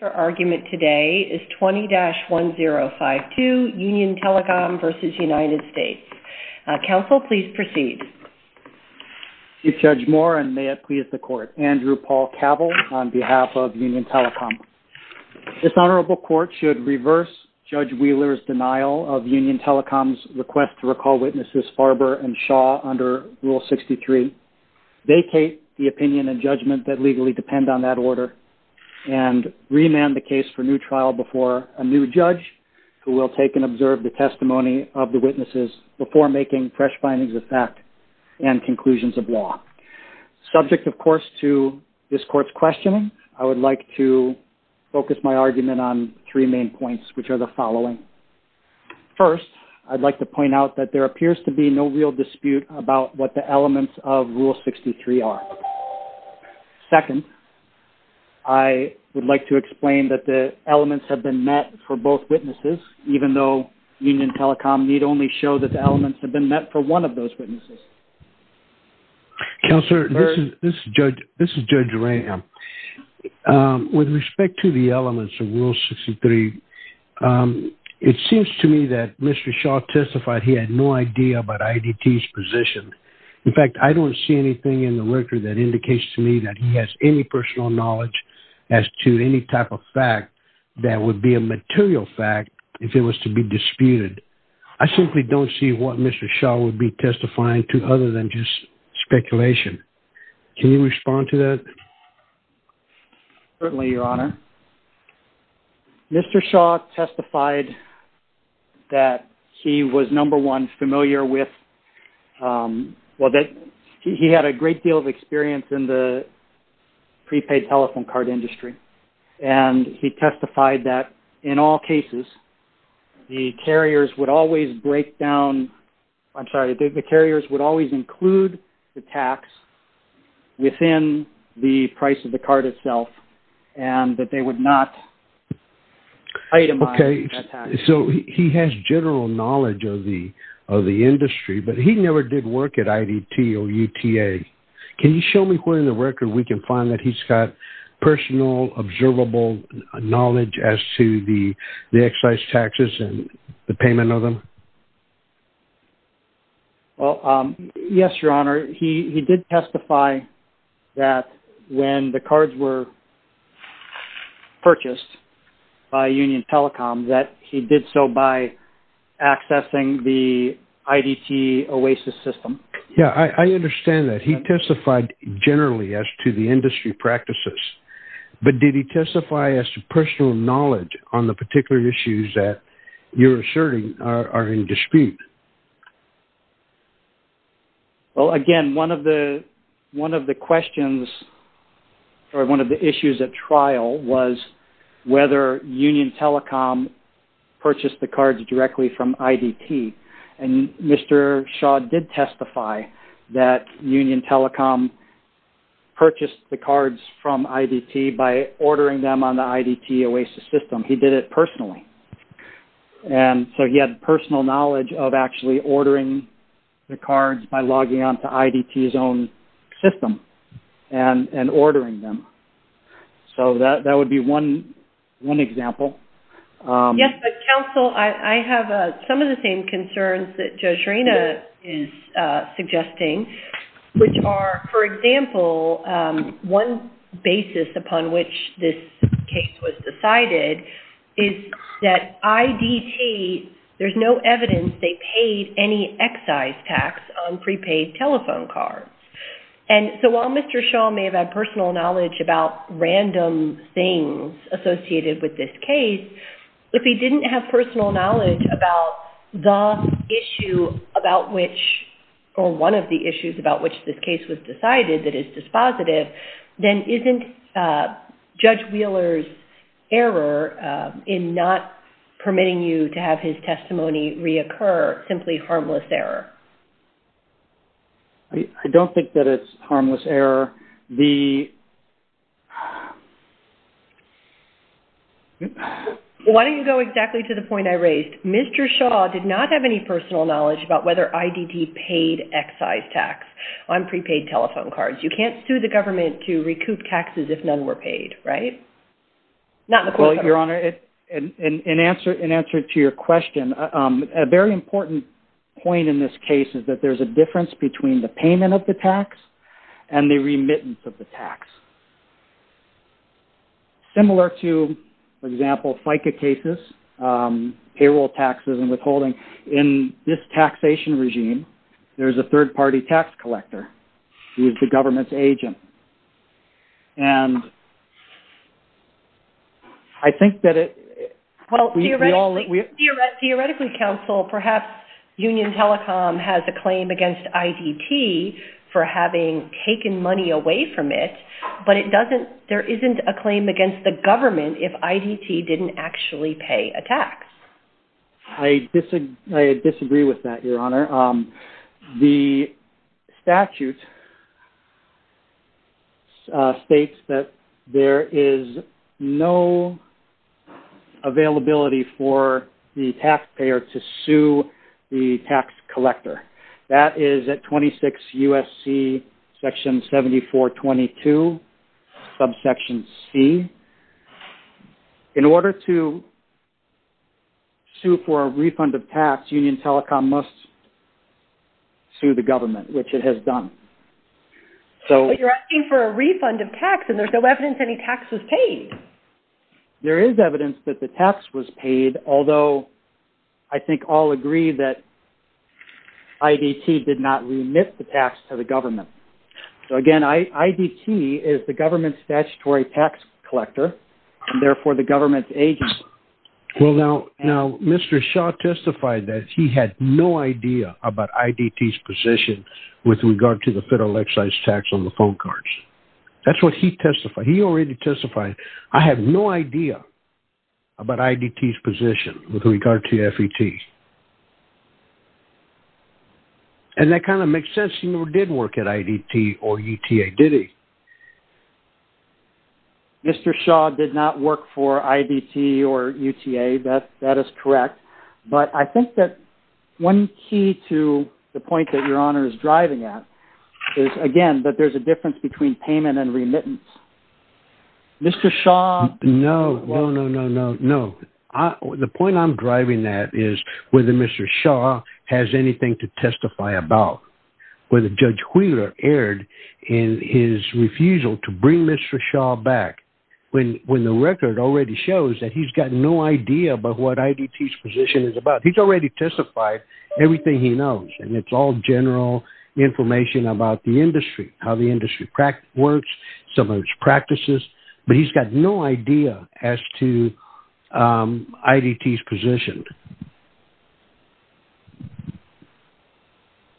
Your argument today is 20-1052 Union Telecom v. United States. Counsel, please proceed. Chief Judge Moore and may it please the Court. Andrew Paul Cavill on behalf of Union Telecom. This Honorable Court should reverse Judge Wheeler's denial of Union Telecom's request to recall witnesses Farber and Shaw under Rule 63, vacate the opinion and judgment that remand the case for new trial before a new judge who will take and observe the testimony of the witnesses before making fresh findings of fact and conclusions of law. Subject, of course, to this Court's questioning, I would like to focus my argument on three main points, which are the following. First, I'd like to point out that there appears to be no real dispute about what the elements of Rule 63 are. Second, I would like to explain that the elements have been met for both witnesses, even though Union Telecom need only show that the elements have been met for one of those witnesses. Counselor, this is Judge Graham. With respect to the elements of Rule 63, it seems to me that Mr. Shaw testified he had no idea about IDT's position. In fact, I don't see anything in the record that indicates to me that he has any personal knowledge as to any type of fact that would be a material fact if it was to be disputed. I simply don't see what Mr. Shaw would be testifying to other than just speculation. Can you respond to that? Certainly, Your Honor. Mr. Shaw testified that he was, number one, familiar with, well, that he had a great deal of experience in the prepaid telephone card industry, and he testified that in all cases, the carriers would always break down, I'm sorry, the carriers would always include the tax within the price of the card itself, and that they would not itemize that tax. Okay, so he has general knowledge of the industry, but he never did work at IDT or UTA. Can you show me where in the record we can find that he's got personal, observable knowledge as to the excise taxes and the payment of them? Well, yes, Your Honor. He did testify that when the cards were purchased by Union Telecom that he did so by accessing the IDT Oasis system. Yeah, I understand that. He testified generally as to the industry practices, but did he testify as to personal knowledge on the particular issues that you're asserting are in dispute? Well, again, one of the issues at trial was whether Union Telecom purchased the cards directly from IDT, and Mr. Shaw did testify that Union Telecom purchased the cards from IDT by ordering them on the IDT Oasis system. He did it personally, and so he had personal knowledge of actually ordering the cards by logging on to IDT's own system and ordering them. So that would be one example. Yes, but counsel, I have some of the same concerns that Judge Reyna is suggesting, which are, for example, one basis upon which this case was decided is that IDT, there's no evidence they paid any excise tax on prepaid telephone cards. And so while Mr. Shaw may have had personal knowledge about random things associated with this case, if he didn't have personal knowledge about the issue about which, or one of the issues about which this case was decided that is dispositive, then isn't Judge Wheeler's error in not permitting you to have his testimony reoccur simply harmless error? I don't think that it's harmless error. Why don't you go exactly to the point I raised? Mr. Shaw did not have any personal knowledge about whether IDT paid excise tax on prepaid telephone cards. You can't sue the government to recoup taxes if none were paid, right? Not in the court system. Well, Your Honor, in answer to your question, a very important point in this case is that there's a difference between the payment of the tax and the remittance of the tax. Similar to, for example, FICA cases, payroll taxes and there's a third-party tax collector who is the government's agent. And I think that it... Theoretically, counsel, perhaps Union Telecom has a claim against IDT for having taken money away from it, but there isn't a claim against the government if IDT didn't actually pay a tax. I disagree with that, Your Honor. The statute states that there is no availability for the taxpayer to sue the tax collector. That is at 26 sue for a refund of tax, Union Telecom must sue the government, which it has done. But you're asking for a refund of tax and there's no evidence any tax was paid. There is evidence that the tax was paid, although I think all agree that IDT did not remit the tax to the government. So again, IDT is the government's statutory tax collector, and therefore the government's agent. Well, now Mr. Shaw testified that he had no idea about IDT's position with regard to the federal excise tax on the phone cards. That's what he testified. He already testified, I have no idea about IDT's position with regard to FET. And that kind of makes sense. He never did work at IDT or ETA, did he? No. Mr. Shaw did not work for IDT or ETA, that is correct. But I think that one key to the point that Your Honor is driving at is, again, that there's a difference between payment and remittance. Mr. Shaw... No, no, no, no, no. The point I'm driving at is whether Mr. Shaw has anything to testify about, whether Judge Wheeler erred in his refusal to bring Mr. Shaw back when the record already shows that he's got no idea about what IDT's position is about. He's already testified everything he knows, and it's all general information about the industry, how the industry works, some of its practices, but he's got no idea as to IDT's position.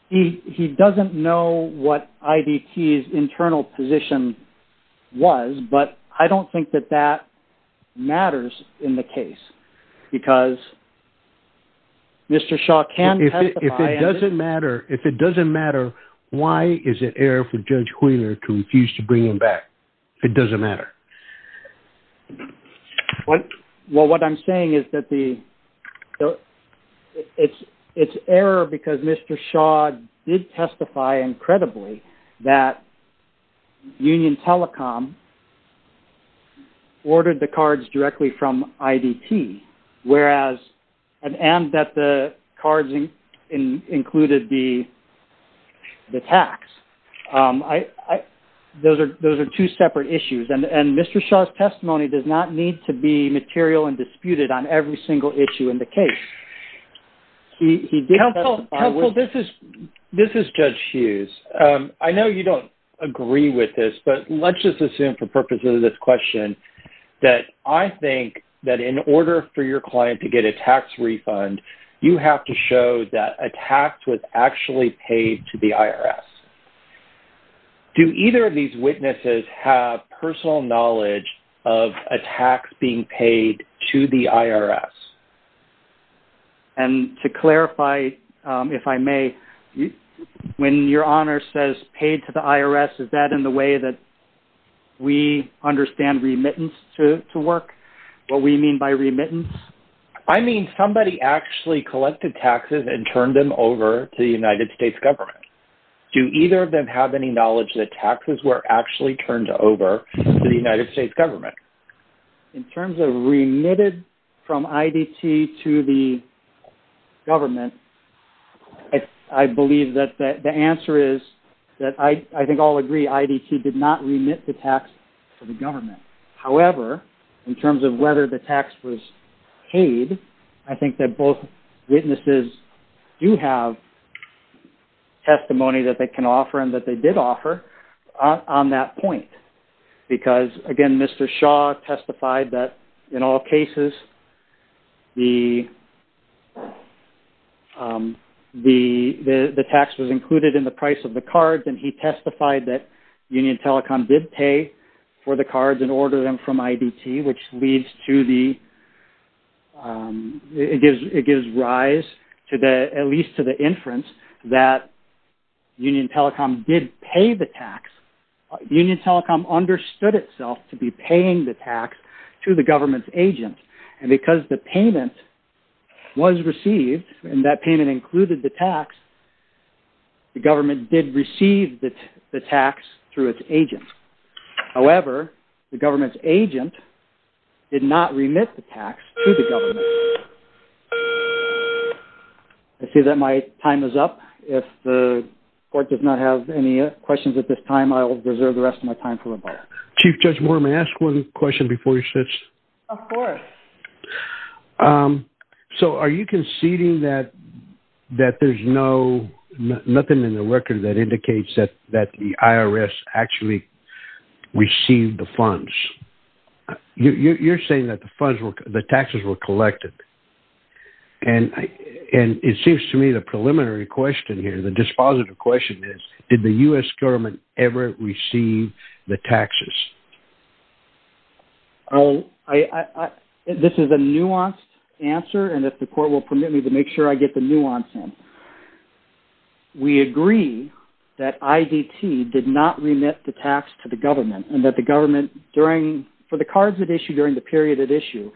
He doesn't know what IDT's internal position was, but I don't think that that matters in the case because Mr. Shaw can testify... If it doesn't matter, why is it error for Judge Wheeler to refuse to bring him back? It doesn't matter. Well, what I'm saying is that the... It's error because Mr. Shaw did testify incredibly that Union Telecom ordered the cards directly from IDT, and that the cards included the tax. I... Those are two separate issues, and Mr. Shaw's testimony does not need to be material and disputed on every single issue in the case. He did testify with... Counsel, this is Judge Hughes. I know you don't agree with this, but let's just assume for purposes of this question that I think that in order for your client to get a tax refund, you have to show that a tax was actually paid to the IRS. Do either of these witnesses have personal knowledge of a tax being paid to the IRS? And to clarify, if I may, when your honor says paid to the IRS, is that in the way that we understand remittance to work? What we mean by remittance? I mean somebody actually collected taxes and turned them over to the United States government. Do either of them have any knowledge that taxes were actually turned over to the United States government? In terms of remitted from IDT to the government, I believe that the answer is that I think all agree IDT did not remit the tax to the government. However, in terms of whether the tax was paid, I think that both witnesses do have testimony that they can offer and that they did offer on that point. Because again, Mr. Shaw testified that in all cases, the tax was included in the price of the cards and he testified that for the cards and order them from IDT, which leads to the, it gives rise to the, at least to the inference that Union Telecom did pay the tax. Union Telecom understood itself to be paying the tax to the government's agent. And because the payment was received and that payment included the tax, the government did receive the tax through its agents. However, the government's agent did not remit the tax to the government. I see that my time is up. If the court does not have any questions at this time, I will reserve the rest of my time for the bar. Chief Judge Moore, may I ask one question before you switch? Of course. So are you conceding that, that there's no, nothing in the record that indicates that, that the IRS actually received the funds? You're saying that the funds were, the taxes were collected. And, and it seems to me the preliminary question here, the dispositive question is, did the U.S. government ever receive the taxes? I, I, I, this is a nuanced answer and if the court will permit me to make sure I get the nuance in. We agree that IDT did not remit the tax to the government and that the government during, for the cards at issue, during the period at issue,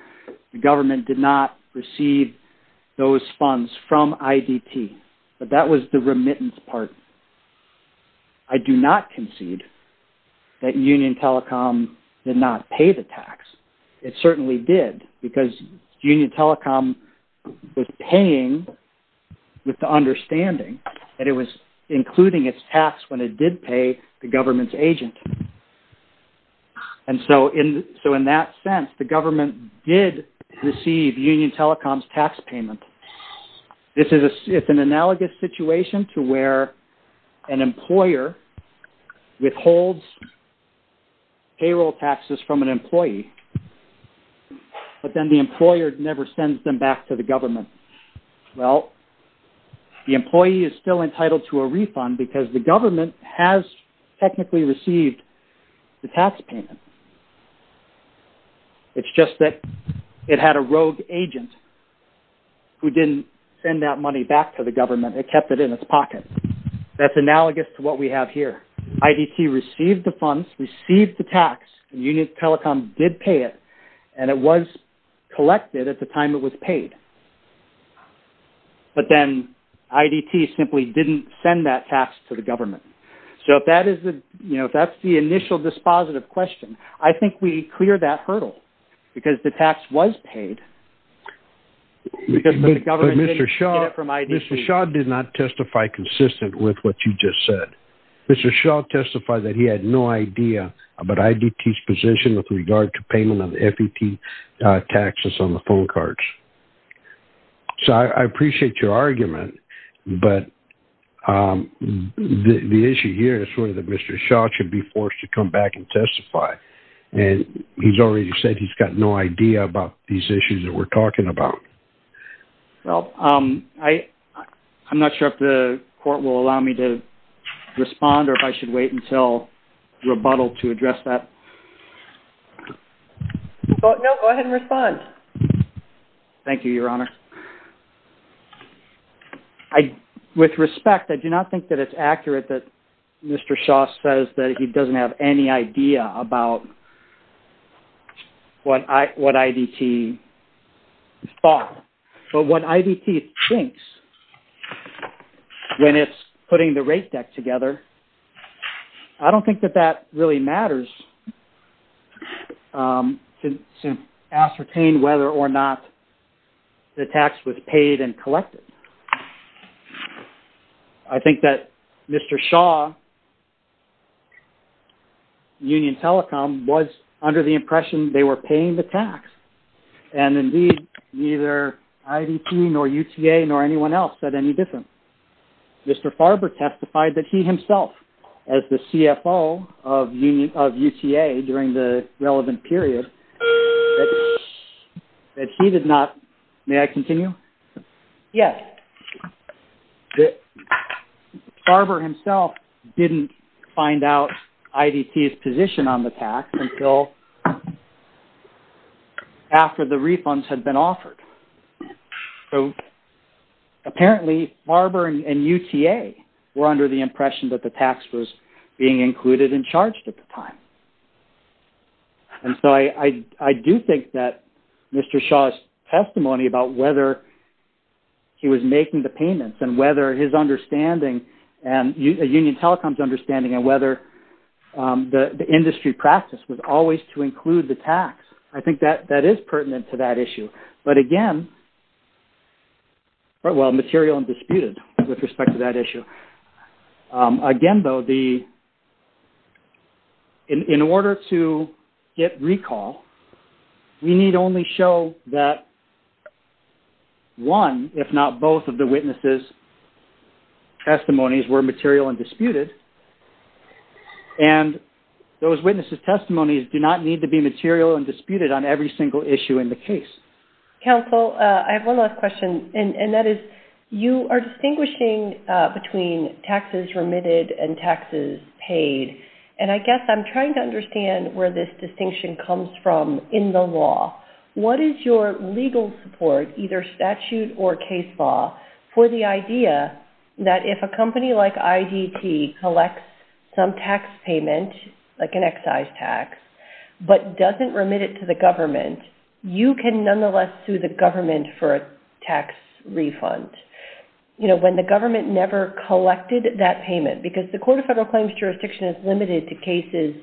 the government did not receive those funds from IDT, but that was the remittance part. I do not concede that Union Telecom did not pay the tax. It certainly did because Union Telecom was paying with the understanding that it was including its tax when it did pay the government's agent. And so in, so in that sense, the government did receive Union Telecom's tax payment. This is a, it's an analogous situation to where an employer withholds payroll taxes from an employee, but then the employer never sends them back to the government. Well, the employee is still entitled to a refund because the government has technically received the tax payment. It's just that it had a rogue agent who didn't send that money back to the government. It kept it in its pocket. That's analogous to what we have here. IDT received the funds, received the tax, Union Telecom did pay it, and it was collected at the time it was paid. But then IDT simply didn't send that tax to the government. So if that is the, you know, that's the initial dispositive question. I think we clear that hurdle because the tax was paid. Mr. Shaw did not testify consistent with what you just said. Mr. Shaw testified that he had no idea about IDT's position with regard to payment of FET taxes on the phone cards. So I appreciate your argument, but the issue here is sort of that Mr. Shaw should be forced to come back and testify. And he's already said he's got no idea about these issues that we're talking about. Well, I'm not sure if the court will allow me to respond or if I should wait until rebuttal to address that. No, go ahead and respond. Thank you, Your Honor. With respect, I do not think that it's accurate that Mr. Shaw says that he doesn't have any idea about what IDT is bought. But what IDT thinks when it's putting the rate deck together, I don't think that that really matters to ascertain whether or not the tax was paid and collected. I think that Mr. Shaw, Union Telecom, was under the impression they were paying the tax. And indeed, neither IDT nor UTA nor anyone else said any different. Mr. Farber testified that he as the CFO of UTA during the relevant period, that he did not... May I continue? Yes. Farber himself didn't find out IDT's position on the tax until after the refunds had been offered. So apparently, Farber and UTA were under the impression that the tax was being included and charged at the time. And so I do think that Mr. Shaw's testimony about whether he was making the payments and whether his understanding and Union Telecom's understanding and whether the industry practice was always to include the tax. I think that is pertinent to that issue. But again, well, material and disputed with respect to that issue. Again, though, in order to get recall, we need only show that one, if not both of the witnesses' testimonies were material and disputed. And those witnesses' testimonies do not need to be material and disputed on every single issue in the case. Counsel, I have one last question. And that is, you are distinguishing between taxes remitted and taxes paid. And I guess I'm trying to understand where this distinction comes from in the law. What is your legal support, either statute or case law, for the idea that if a company like IDT collects some tax payment, like an excise tax, but doesn't remit it to the government, you can nonetheless sue the government for a tax refund when the government never collected that payment? Because the Court of Federal Claims jurisdiction is limited to cases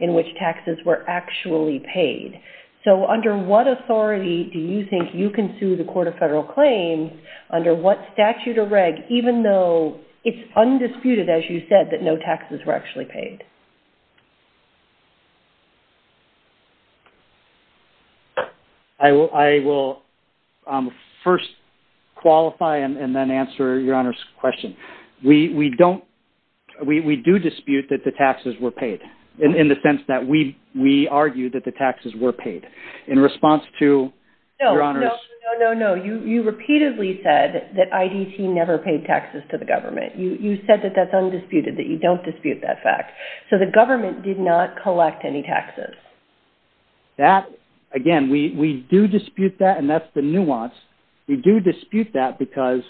in which taxes were actually paid. So under what authority do you think you can sue the Court of Federal Claims under what statute or reg, even though it's undisputed, as you said, that no taxes were actually paid? I will first qualify and then answer Your Honor's question. We do dispute that the taxes were paid, in the sense that we argue that the taxes were paid. In response to Your Honor's... No, no, no. You repeatedly said that IDT never paid taxes to the government. You said that that's undisputed, that you don't dispute that fact. So the government did not collect any taxes. That, again, we do dispute that and that's the nuance. We do dispute that because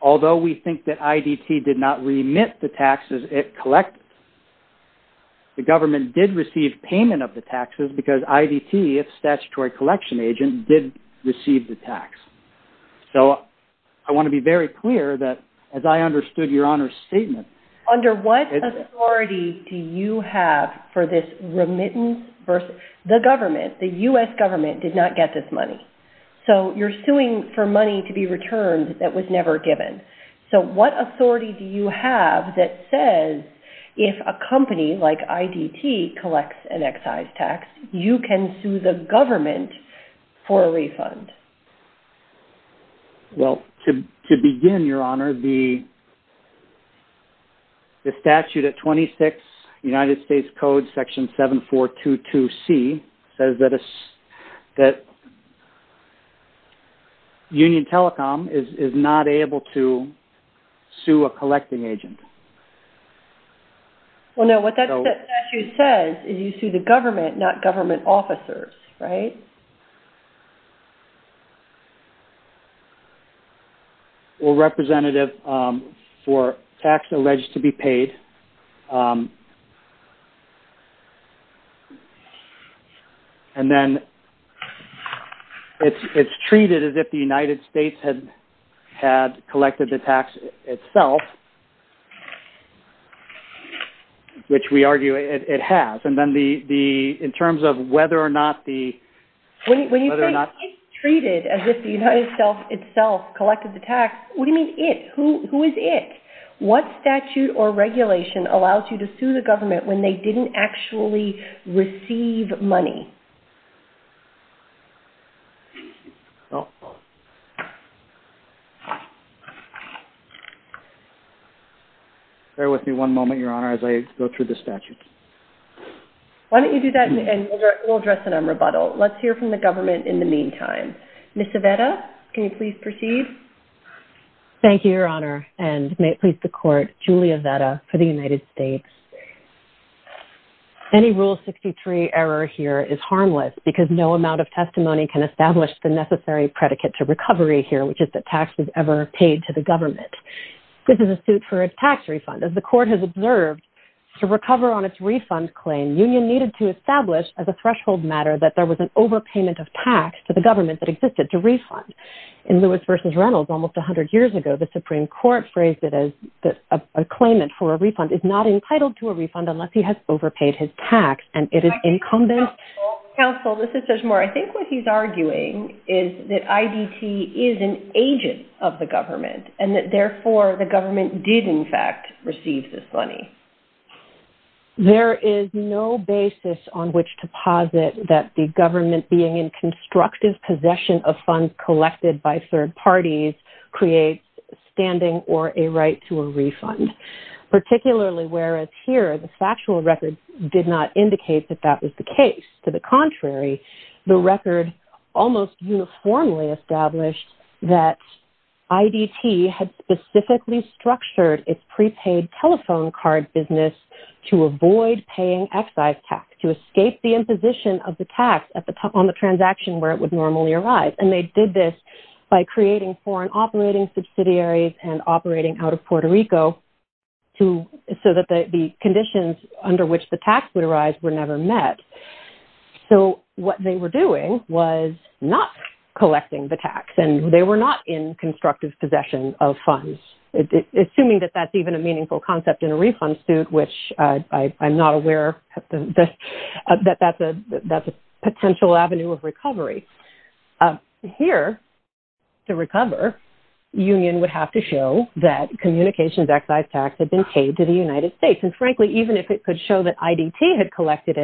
although we think that IDT did not remit the taxes it collected, the government did receive payment of the taxes because IDT, its statutory collection agent, did receive the tax. So I want to be very clear that as I understood Your Honor's statement... Under what authority do you have for this remittance versus... The government, the U.S. government did not get this money. So you're suing for money to be returned that was never given. So what authority do you have that says if a company like IDT collects an excise tax, you can sue the government for a refund? Well, to begin, Your Honor, the statute at 26 United States Code section 7422C says that Union Telecom is not able to sue a collecting agent. Well, no, what that statute says is you sue the government, not government officers, right? Well, Representative, for tax alleged to be paid, and then it's treated as if the United States had collected the tax itself, which we argue it has. And then in terms of whether or not the... When you say it's treated as if the United States itself collected the tax, what do you mean it? Who is it? What statute or regulation allows you to sue the government when they didn't actually receive money? Bear with me one moment, Your Honor, as I go through the statute. Why don't you do that, and we'll address it on rebuttal. Let's hear from the government in the meantime. Ms. Avetta, can you please proceed? Thank you, Your Honor, and may it please the court, Julia Avetta for the United States. Any Rule 63 error here is harmless because no amount of testimony can establish the necessary predicate to recovery here, which is that tax was ever paid to the government. This is a suit for a tax refund. As the court has observed, to recover on its refund claim, union needed to establish as a threshold matter that there was an overpayment of tax to the government that existed to refund. In Lewis v. Reynolds, almost 100 years ago, the Supreme Court phrased it as that a claimant for a refund is not entitled to a refund unless he has overpaid his tax, and it is incumbent... Counsel, this is Judge Moore. I think what he's arguing is that IDT is an agent of the government, and that, therefore, the government did, in fact, receive this money. There is no basis on which to posit that the government being in constructive possession of funds collected by third parties creates standing or a right to a refund, particularly whereas here the factual record did not indicate that that was the case. To the contrary, the record almost uniformly established that IDT had specifically structured its prepaid telephone card business to avoid paying excise tax, to escape the imposition of the tax on the transaction where it would normally arise, and they did this by creating foreign operating subsidiaries and operating out of Puerto Rico so that the conditions under which the tax would arise were never met. So what they were doing was not collecting the tax, and they were not in constructive possession of funds, assuming that that's even a meaningful concept in a refund suit, which I'm not aware that that's a potential avenue of recovery. Here, to recover, the union would have to show that communications excise tax had been paid to the United States, and frankly, even if it could show that IDT had collected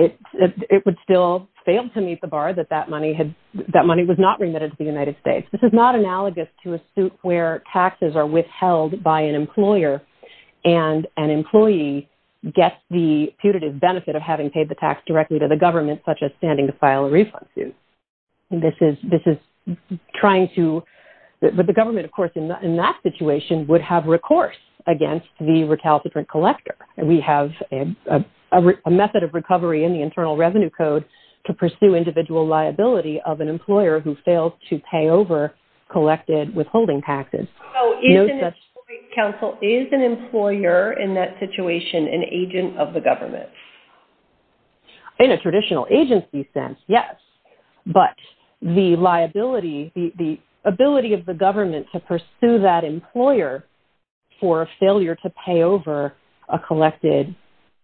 it, it would still fail to meet the bar that that money had, that money was not remitted to the United States. This is not analogous to a suit where taxes are withheld by an employer, and an employee gets the putative benefit of having paid the tax directly to the government, such as standing to file a refund suit. This is trying to, but the government, of course, in that situation would have recourse against the recalcitrant collector. We have a method of recovery in the Internal Revenue Code to pursue individual liability of an employer who failed to pay over collected withholding taxes. Oh, is an employee counsel, is an employer in that situation an agent of the government? In a traditional agency sense, yes, but the liability, the ability of the government to pursue that employer for failure to pay over a collected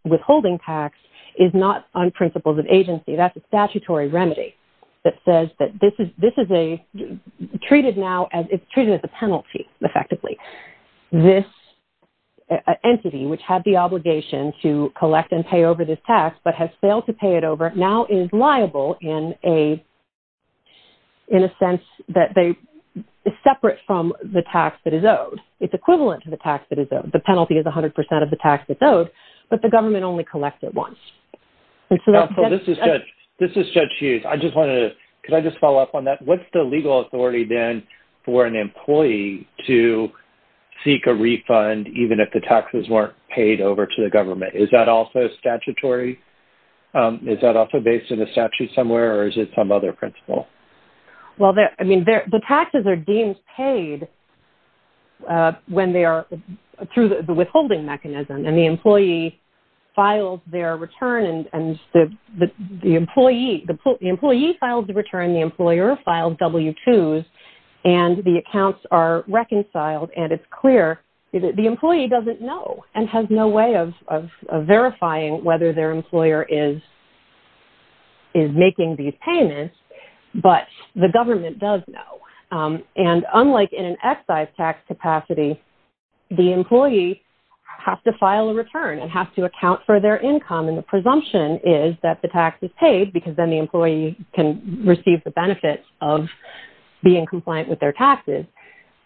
withholding tax is not on principles of agency. That's a statutory remedy that says that this is treated now, it's treated as a penalty, effectively. This entity, which had the obligation to collect and pay over this tax, but has failed to pay it over, now is liable in a sense that they are separate from the tax that is owed. It's equivalent to the tax that is owed. The penalty is 100% of the tax that's owed, but the government only collects it once. This is Judge Hughes. I just wanted to, could I just follow up on that? What's the legal authority then for an employee to seek a refund, even if the taxes weren't paid over to the government? Is that also statutory? Is that also based on a statute somewhere, or is it some other principle? Well, I mean, the taxes are deemed paid when they are through the withholding mechanism, and the employee files their return, and the employee files the return, the employer files W-2s, and the accounts are reconciled, and it's clear that the employee doesn't know and has no way of verifying whether their employer is making these payments, but the government does know. And unlike in an excise tax capacity, the employee has to file a return and have to account for their income, and the presumption is that the tax is paid because then the employee can receive the benefits of being compliant with their taxes.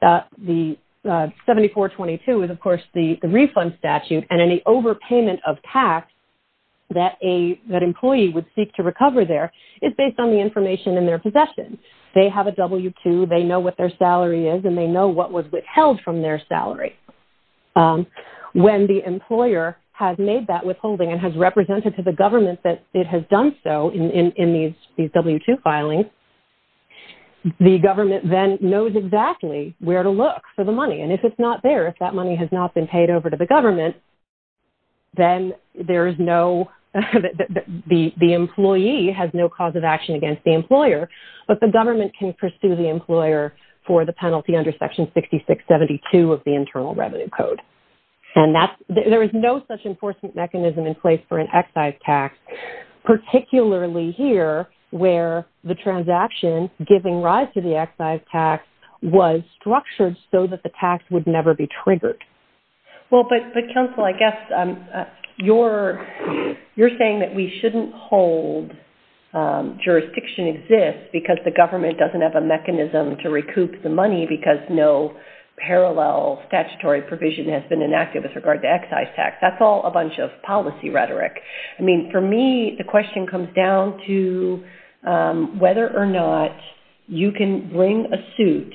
The 7422 is, of course, the refund statute, and any overpayment of tax that an employee would seek to recover there is based on the information in their possession. They have a W-2, they know what their salary is, and they know what was withheld from their salary. When the employer has made that withholding and has represented to the government that it has done so in these W-2 filings, the government then knows exactly where to look for the money. And if it's not there, if that money has not been paid over to the government, then there is no, the employee has no cause of action against the employer, but the government can pursue the employer for the penalty under Section 6672 of the Internal Revenue Code. And there is no such enforcement mechanism in place for an excise tax, particularly here, where the transaction giving rise to the excise tax was structured so that the tax would never be triggered. Well, but counsel, I guess you're saying that we shouldn't hold jurisdiction exists because the government doesn't have a mechanism to recoup the money because no parallel statutory provision has been enacted with regard to excise tax. That's all a bunch of policy rhetoric. I mean, for me, the question comes down to whether or not you can bring a suit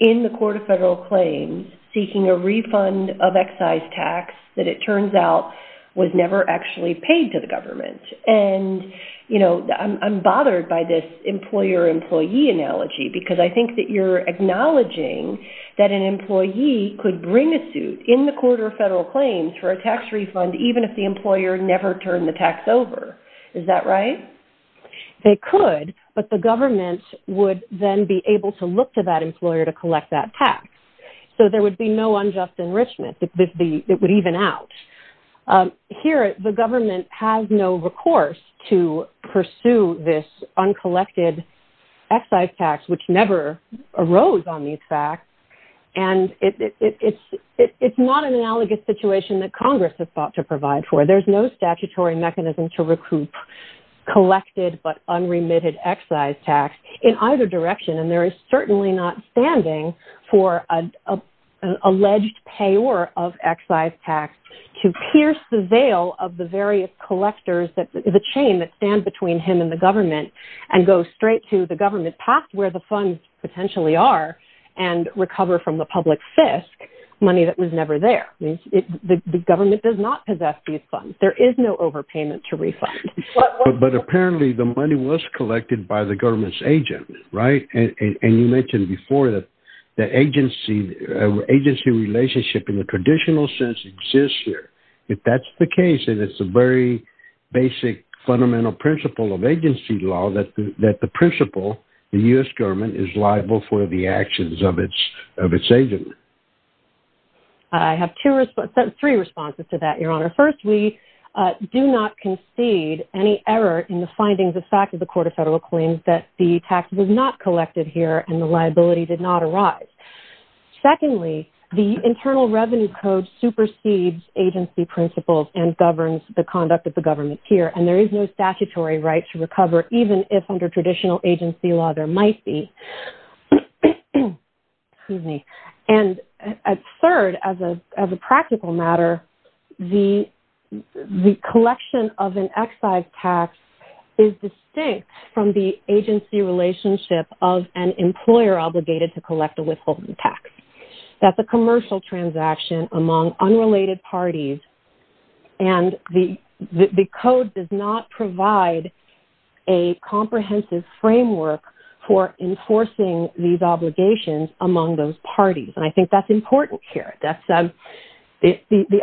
in the Court of Federal Claims seeking a refund of excise tax that it turns out was never actually paid to the government. And, you know, I'm bothered by this employer-employee analogy, because I think that you're acknowledging that an employee could bring a suit in the Court of Federal Claims for a tax refund, even if the employer never turned the tax over. Is that right? They could, but the government would then be able to look to that employer to collect that tax. So there would be no unjust enrichment. It would even out. Here, the government has no recourse to pursue this uncollected excise tax, which never arose on these facts. And it's not an analogous situation that Congress has sought to provide for. There's no statutory mechanism to collect it, but unremitted excise tax in either direction. And there is certainly not standing for an alleged payor of excise tax to pierce the veil of the various collectors that the chain that stand between him and the government and go straight to the government past where the funds potentially are and recover from the public fisc money that was never there. The government does not possess these funds. There is no overpayment to refund. But apparently the money was collected by the government's agent, right? And you mentioned before that agency relationship in the traditional sense exists here. If that's the case, and it's a very basic fundamental principle of agency law, that the principle, the U.S. government is liable for the actions of its agent. I have three responses to that, Your Honor. First, we do not concede any error in the findings of fact of the court of federal claims that the tax was not collected here and the liability did not arise. Secondly, the internal revenue code supersedes agency principles and governs the conduct of the government here. And there is no statutory right to recover, even if under traditional agency law, might be. And third, as a practical matter, the collection of an excise tax is distinct from the agency relationship of an employer obligated to collect a withholding tax. That's a commercial transaction among unrelated parties. And the code does not provide a comprehensive framework for enforcing these obligations among those parties. And I think that's important here. The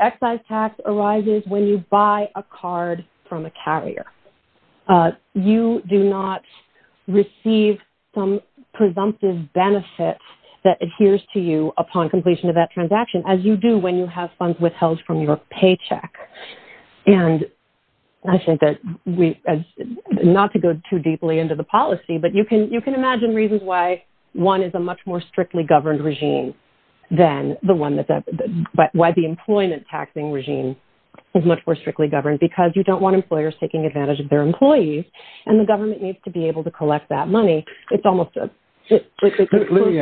excise tax arises when you buy a card from a carrier. You do not receive some presumptive benefits that adheres to you upon completion of that transaction, as you do when you have funds withheld from your paycheck. And I think that we, not to go too deeply into the policy, but you can imagine reasons why one is a much more strictly governed regime than the one that, but why the employment taxing regime is much more strictly governed, because you don't want employers taking advantage of their employees. And the government needs to be able to collect that money. It's almost a... Let me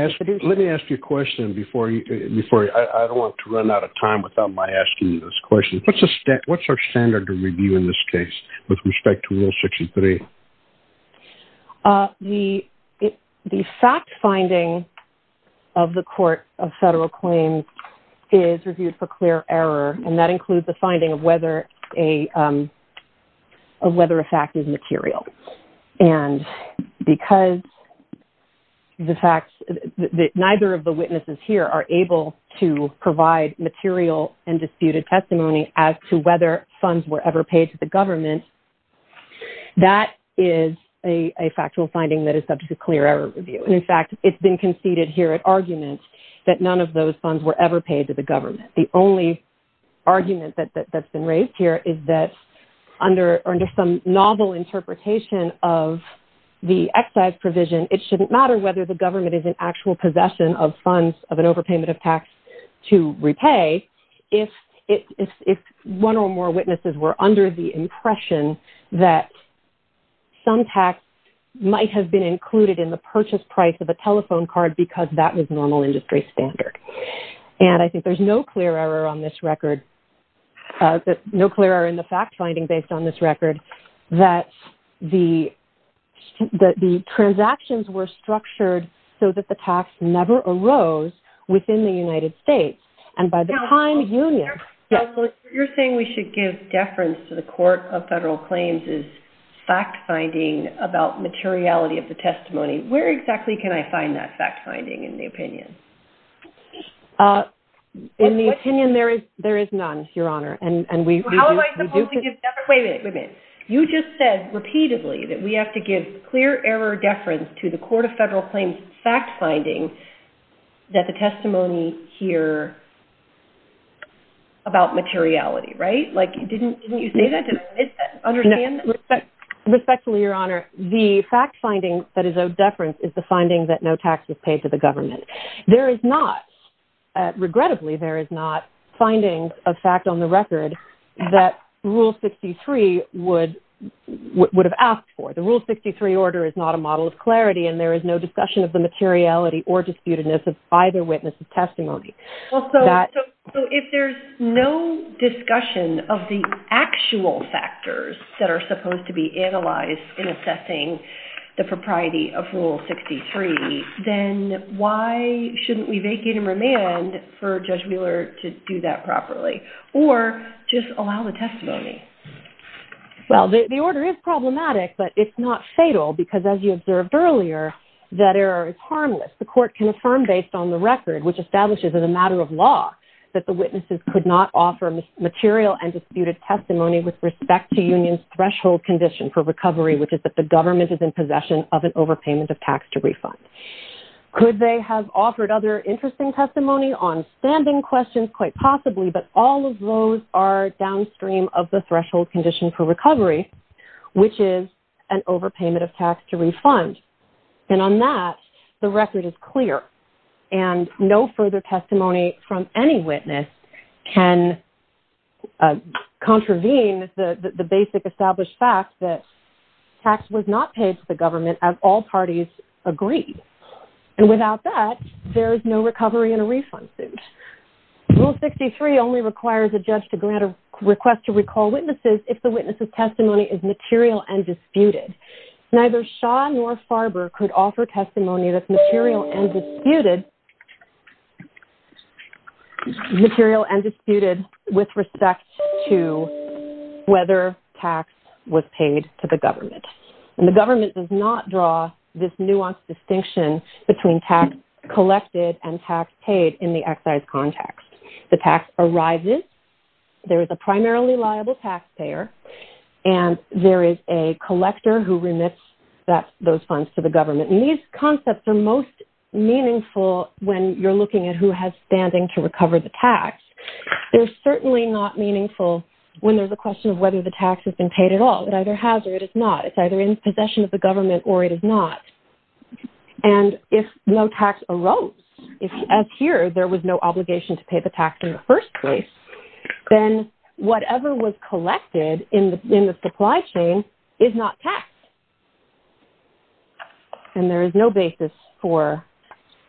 ask you a question before I don't want to run out of time without my asking you this question. What's our standard of review in this case with respect to Rule 63? The fact finding of the Court of Federal Claims is reviewed for clear error. And that includes the finding of whether a fact is material. And because the fact that neither of the witnesses here are able to provide material and disputed testimony as to whether funds were ever paid to the government, that is a factual finding that is subject to clear error review. And in fact, it's been conceded here at argument that none of those funds were ever paid to the government. The only argument that's raised here is that under some novel interpretation of the excise provision, it shouldn't matter whether the government is in actual possession of funds of an overpayment of tax to repay if one or more witnesses were under the impression that some tax might have been included in the purchase price of a telephone card because that was normal industry standard. And I think there's no clear error on this record. No clear error in the fact finding based on this record that the transactions were structured so that the tax never arose within the United States. And by the time union... You're saying we should give deference to the Court of Federal Claims' fact finding about materiality of the testimony. Where exactly can I find that fact finding in the opinion? In the opinion, there is none, Your Honor, and we... How am I supposed to give deference? Wait a minute. You just said repeatedly that we have to give clear error deference to the Court of Federal Claims' fact finding that the testimony here about materiality, right? Didn't you say that? Did I miss that? Understand that? Respectfully, Your Honor, the fact finding that is of deference is the finding that no tax was paid to the government. There is not... Regrettably, there is not finding of fact on the record that Rule 63 would have asked for. The Rule 63 order is not a model of clarity, and there is no discussion of the materiality or disputedness of either witness' testimony. So if there's no discussion of the actual factors that are supposed to be analyzed in assessing the propriety of Rule 63, then why shouldn't we vacate and remand for Judge Wheeler to do that properly or just allow the testimony? Well, the order is problematic, but it's not fatal because as you observed earlier, that error is harmless. The court can affirm based on the record which establishes as a matter of law that the witnesses could not offer material and disputed testimony with respect to union's threshold condition for recovery, which is that the government is in possession of an overpayment of tax to refund. Could they have offered other interesting testimony on standing questions? Quite possibly, but all of those are downstream of the threshold condition for recovery, which is an overpayment of tax to refund. And on that, the record is clear, and no further testimony from any witness can contravene the basic established fact that tax was not paid to the government as all parties agreed. And without that, there is no recovery in a refund suit. Rule 63 only requires a judge to grant a request to recall witnesses if the witness' testimony is material and disputed. Neither Shaw nor Farber could offer testimony that's material and disputed with respect to whether tax was paid to the government. And the government does not draw this nuanced distinction between tax collected and tax paid in the excise context. The tax arises, there is a primarily liable taxpayer, and there is a collector who remits those funds to the government. And these concepts are most meaningful when you're looking at who has standing to recover the tax. They're certainly not meaningful when there's a question of whether the tax has been paid at all. It either has or it is not. It's either in possession of the government or it is not. And if no tax arose, if as here, there was no obligation to pay the tax in the first place, then whatever was collected in the supply chain is not tax. And there is no basis for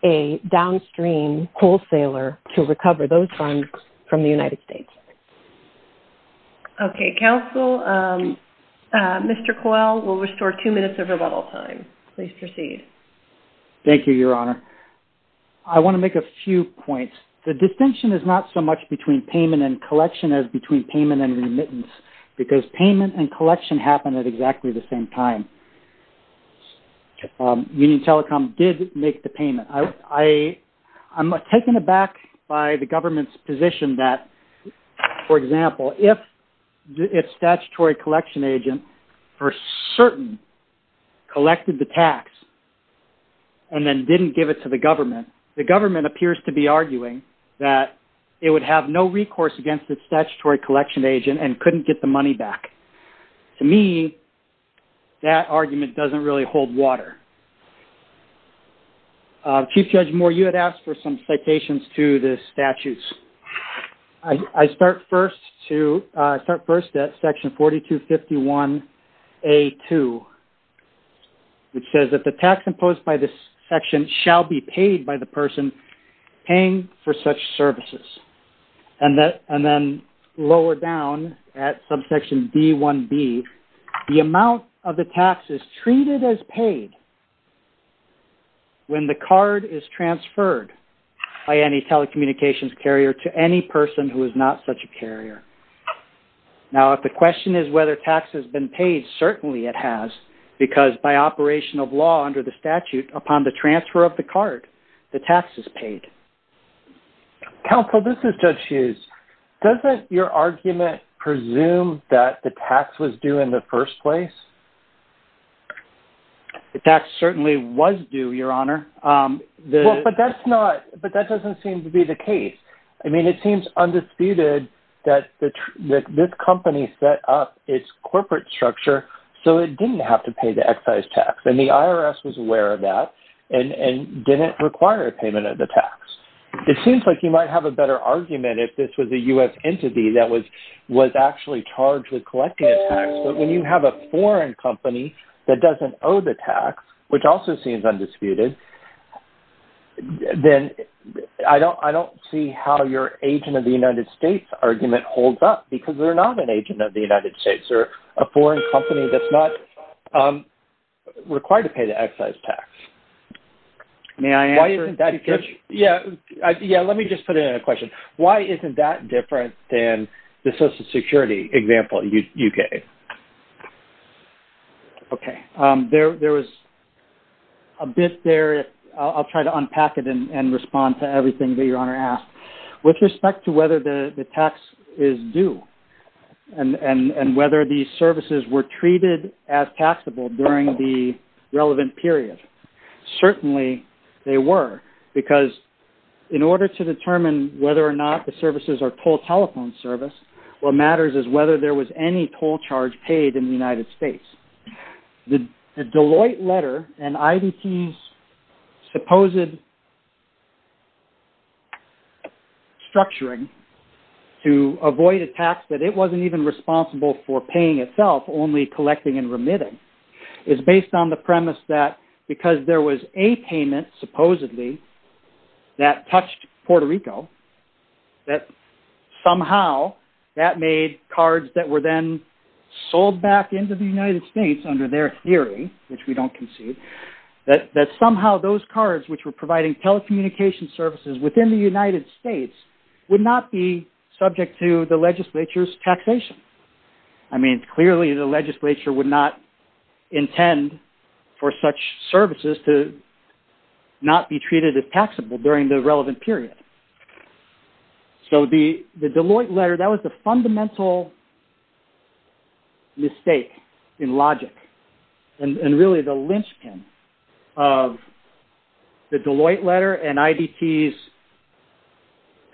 a downstream wholesaler to recover those funds from the United States. Okay. Counsel, Mr. Coyle will restore two minutes of rebuttal time. Please proceed. Thank you, Your Honor. I want to make a few points. The distinction is not so much between payment and collection as between payment and remittance, because payment and collection happen at exactly the same time. Union Telecom did make the payment. I'm taken aback by the government's position that, for example, if a statutory collection agent for certain collected the tax and then didn't give it to the government, the government appears to be arguing that it would have no recourse against its statutory collection agent and couldn't get the money back. To me, that argument doesn't really hold water. Chief Judge Moore, you had some citations to the statutes. I start first at section 4251A2, which says that the tax imposed by this section shall be paid by the person paying for such services. And then lower down at subsection D1B, the amount of the tax is treated as paid when the card is transferred by any telecommunications carrier to any person who is not such a carrier. Now, if the question is whether tax has been paid, certainly it has, because by operation of law under the statute, upon the transfer of the card, the tax is paid. Counsel, this is Judge Hughes. Doesn't your argument presume that the tax was due in the first place? The tax certainly was due, Your Honor. But that doesn't seem to be the case. I mean, it seems undisputed that this company set up its corporate structure so it didn't have to require a payment of the tax. It seems like you might have a better argument if this was a U.S. entity that was actually charged with collecting a tax. But when you have a foreign company that doesn't owe the tax, which also seems undisputed, then I don't see how your agent of the United States argument holds up, because they're not an agent of the United States. They're a foreign company that's not required to pay the excise tax. May I answer that question? Yeah. Yeah. Let me just put it in a question. Why isn't that different than the Social Security example you gave? Okay. There was a bit there. I'll try to unpack it and respond to everything that Your Honor asked. With respect to whether the tax is due and whether these services were treated as taxable during the relevant period, certainly they were. Because in order to determine whether or not the services are toll telephone service, what matters is whether there was any in the United States. The Deloitte letter and IBT's supposed structuring to avoid a tax that it wasn't even responsible for paying itself, only collecting and remitting, is based on the premise that because there was a payment supposedly that somehow that made cards that were then sold back into the United States under their theory, which we don't concede, that somehow those cards which were providing telecommunication services within the United States would not be subject to the legislature's taxation. I mean, clearly the legislature would not intend for such services to not be treated as taxable during the relevant period. So the Deloitte letter, that was the fundamental mistake in logic and really the linchpin of the Deloitte letter and IBT's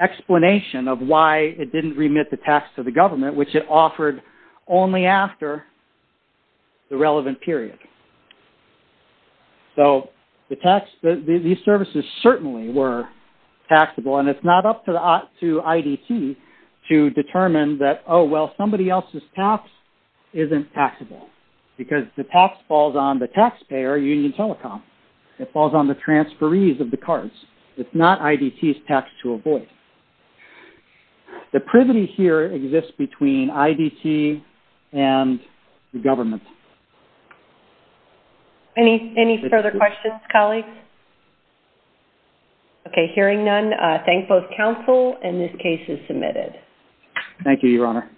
explanation of why it didn't remit the tax to the government, which it offered only after the relevant period. So the tax, these services certainly were taxable and it's not up to IDT to determine that, oh, well, somebody else's tax isn't taxable because the tax falls on the taxpayer, Union Telecom. It falls on the transferees of the cards. It's not IDT's tax to avoid. The privity here exists between IDT and the government. Any further questions, colleagues? Okay, hearing none, I thank both counsel and this case is submitted. Thank you, Your Honor.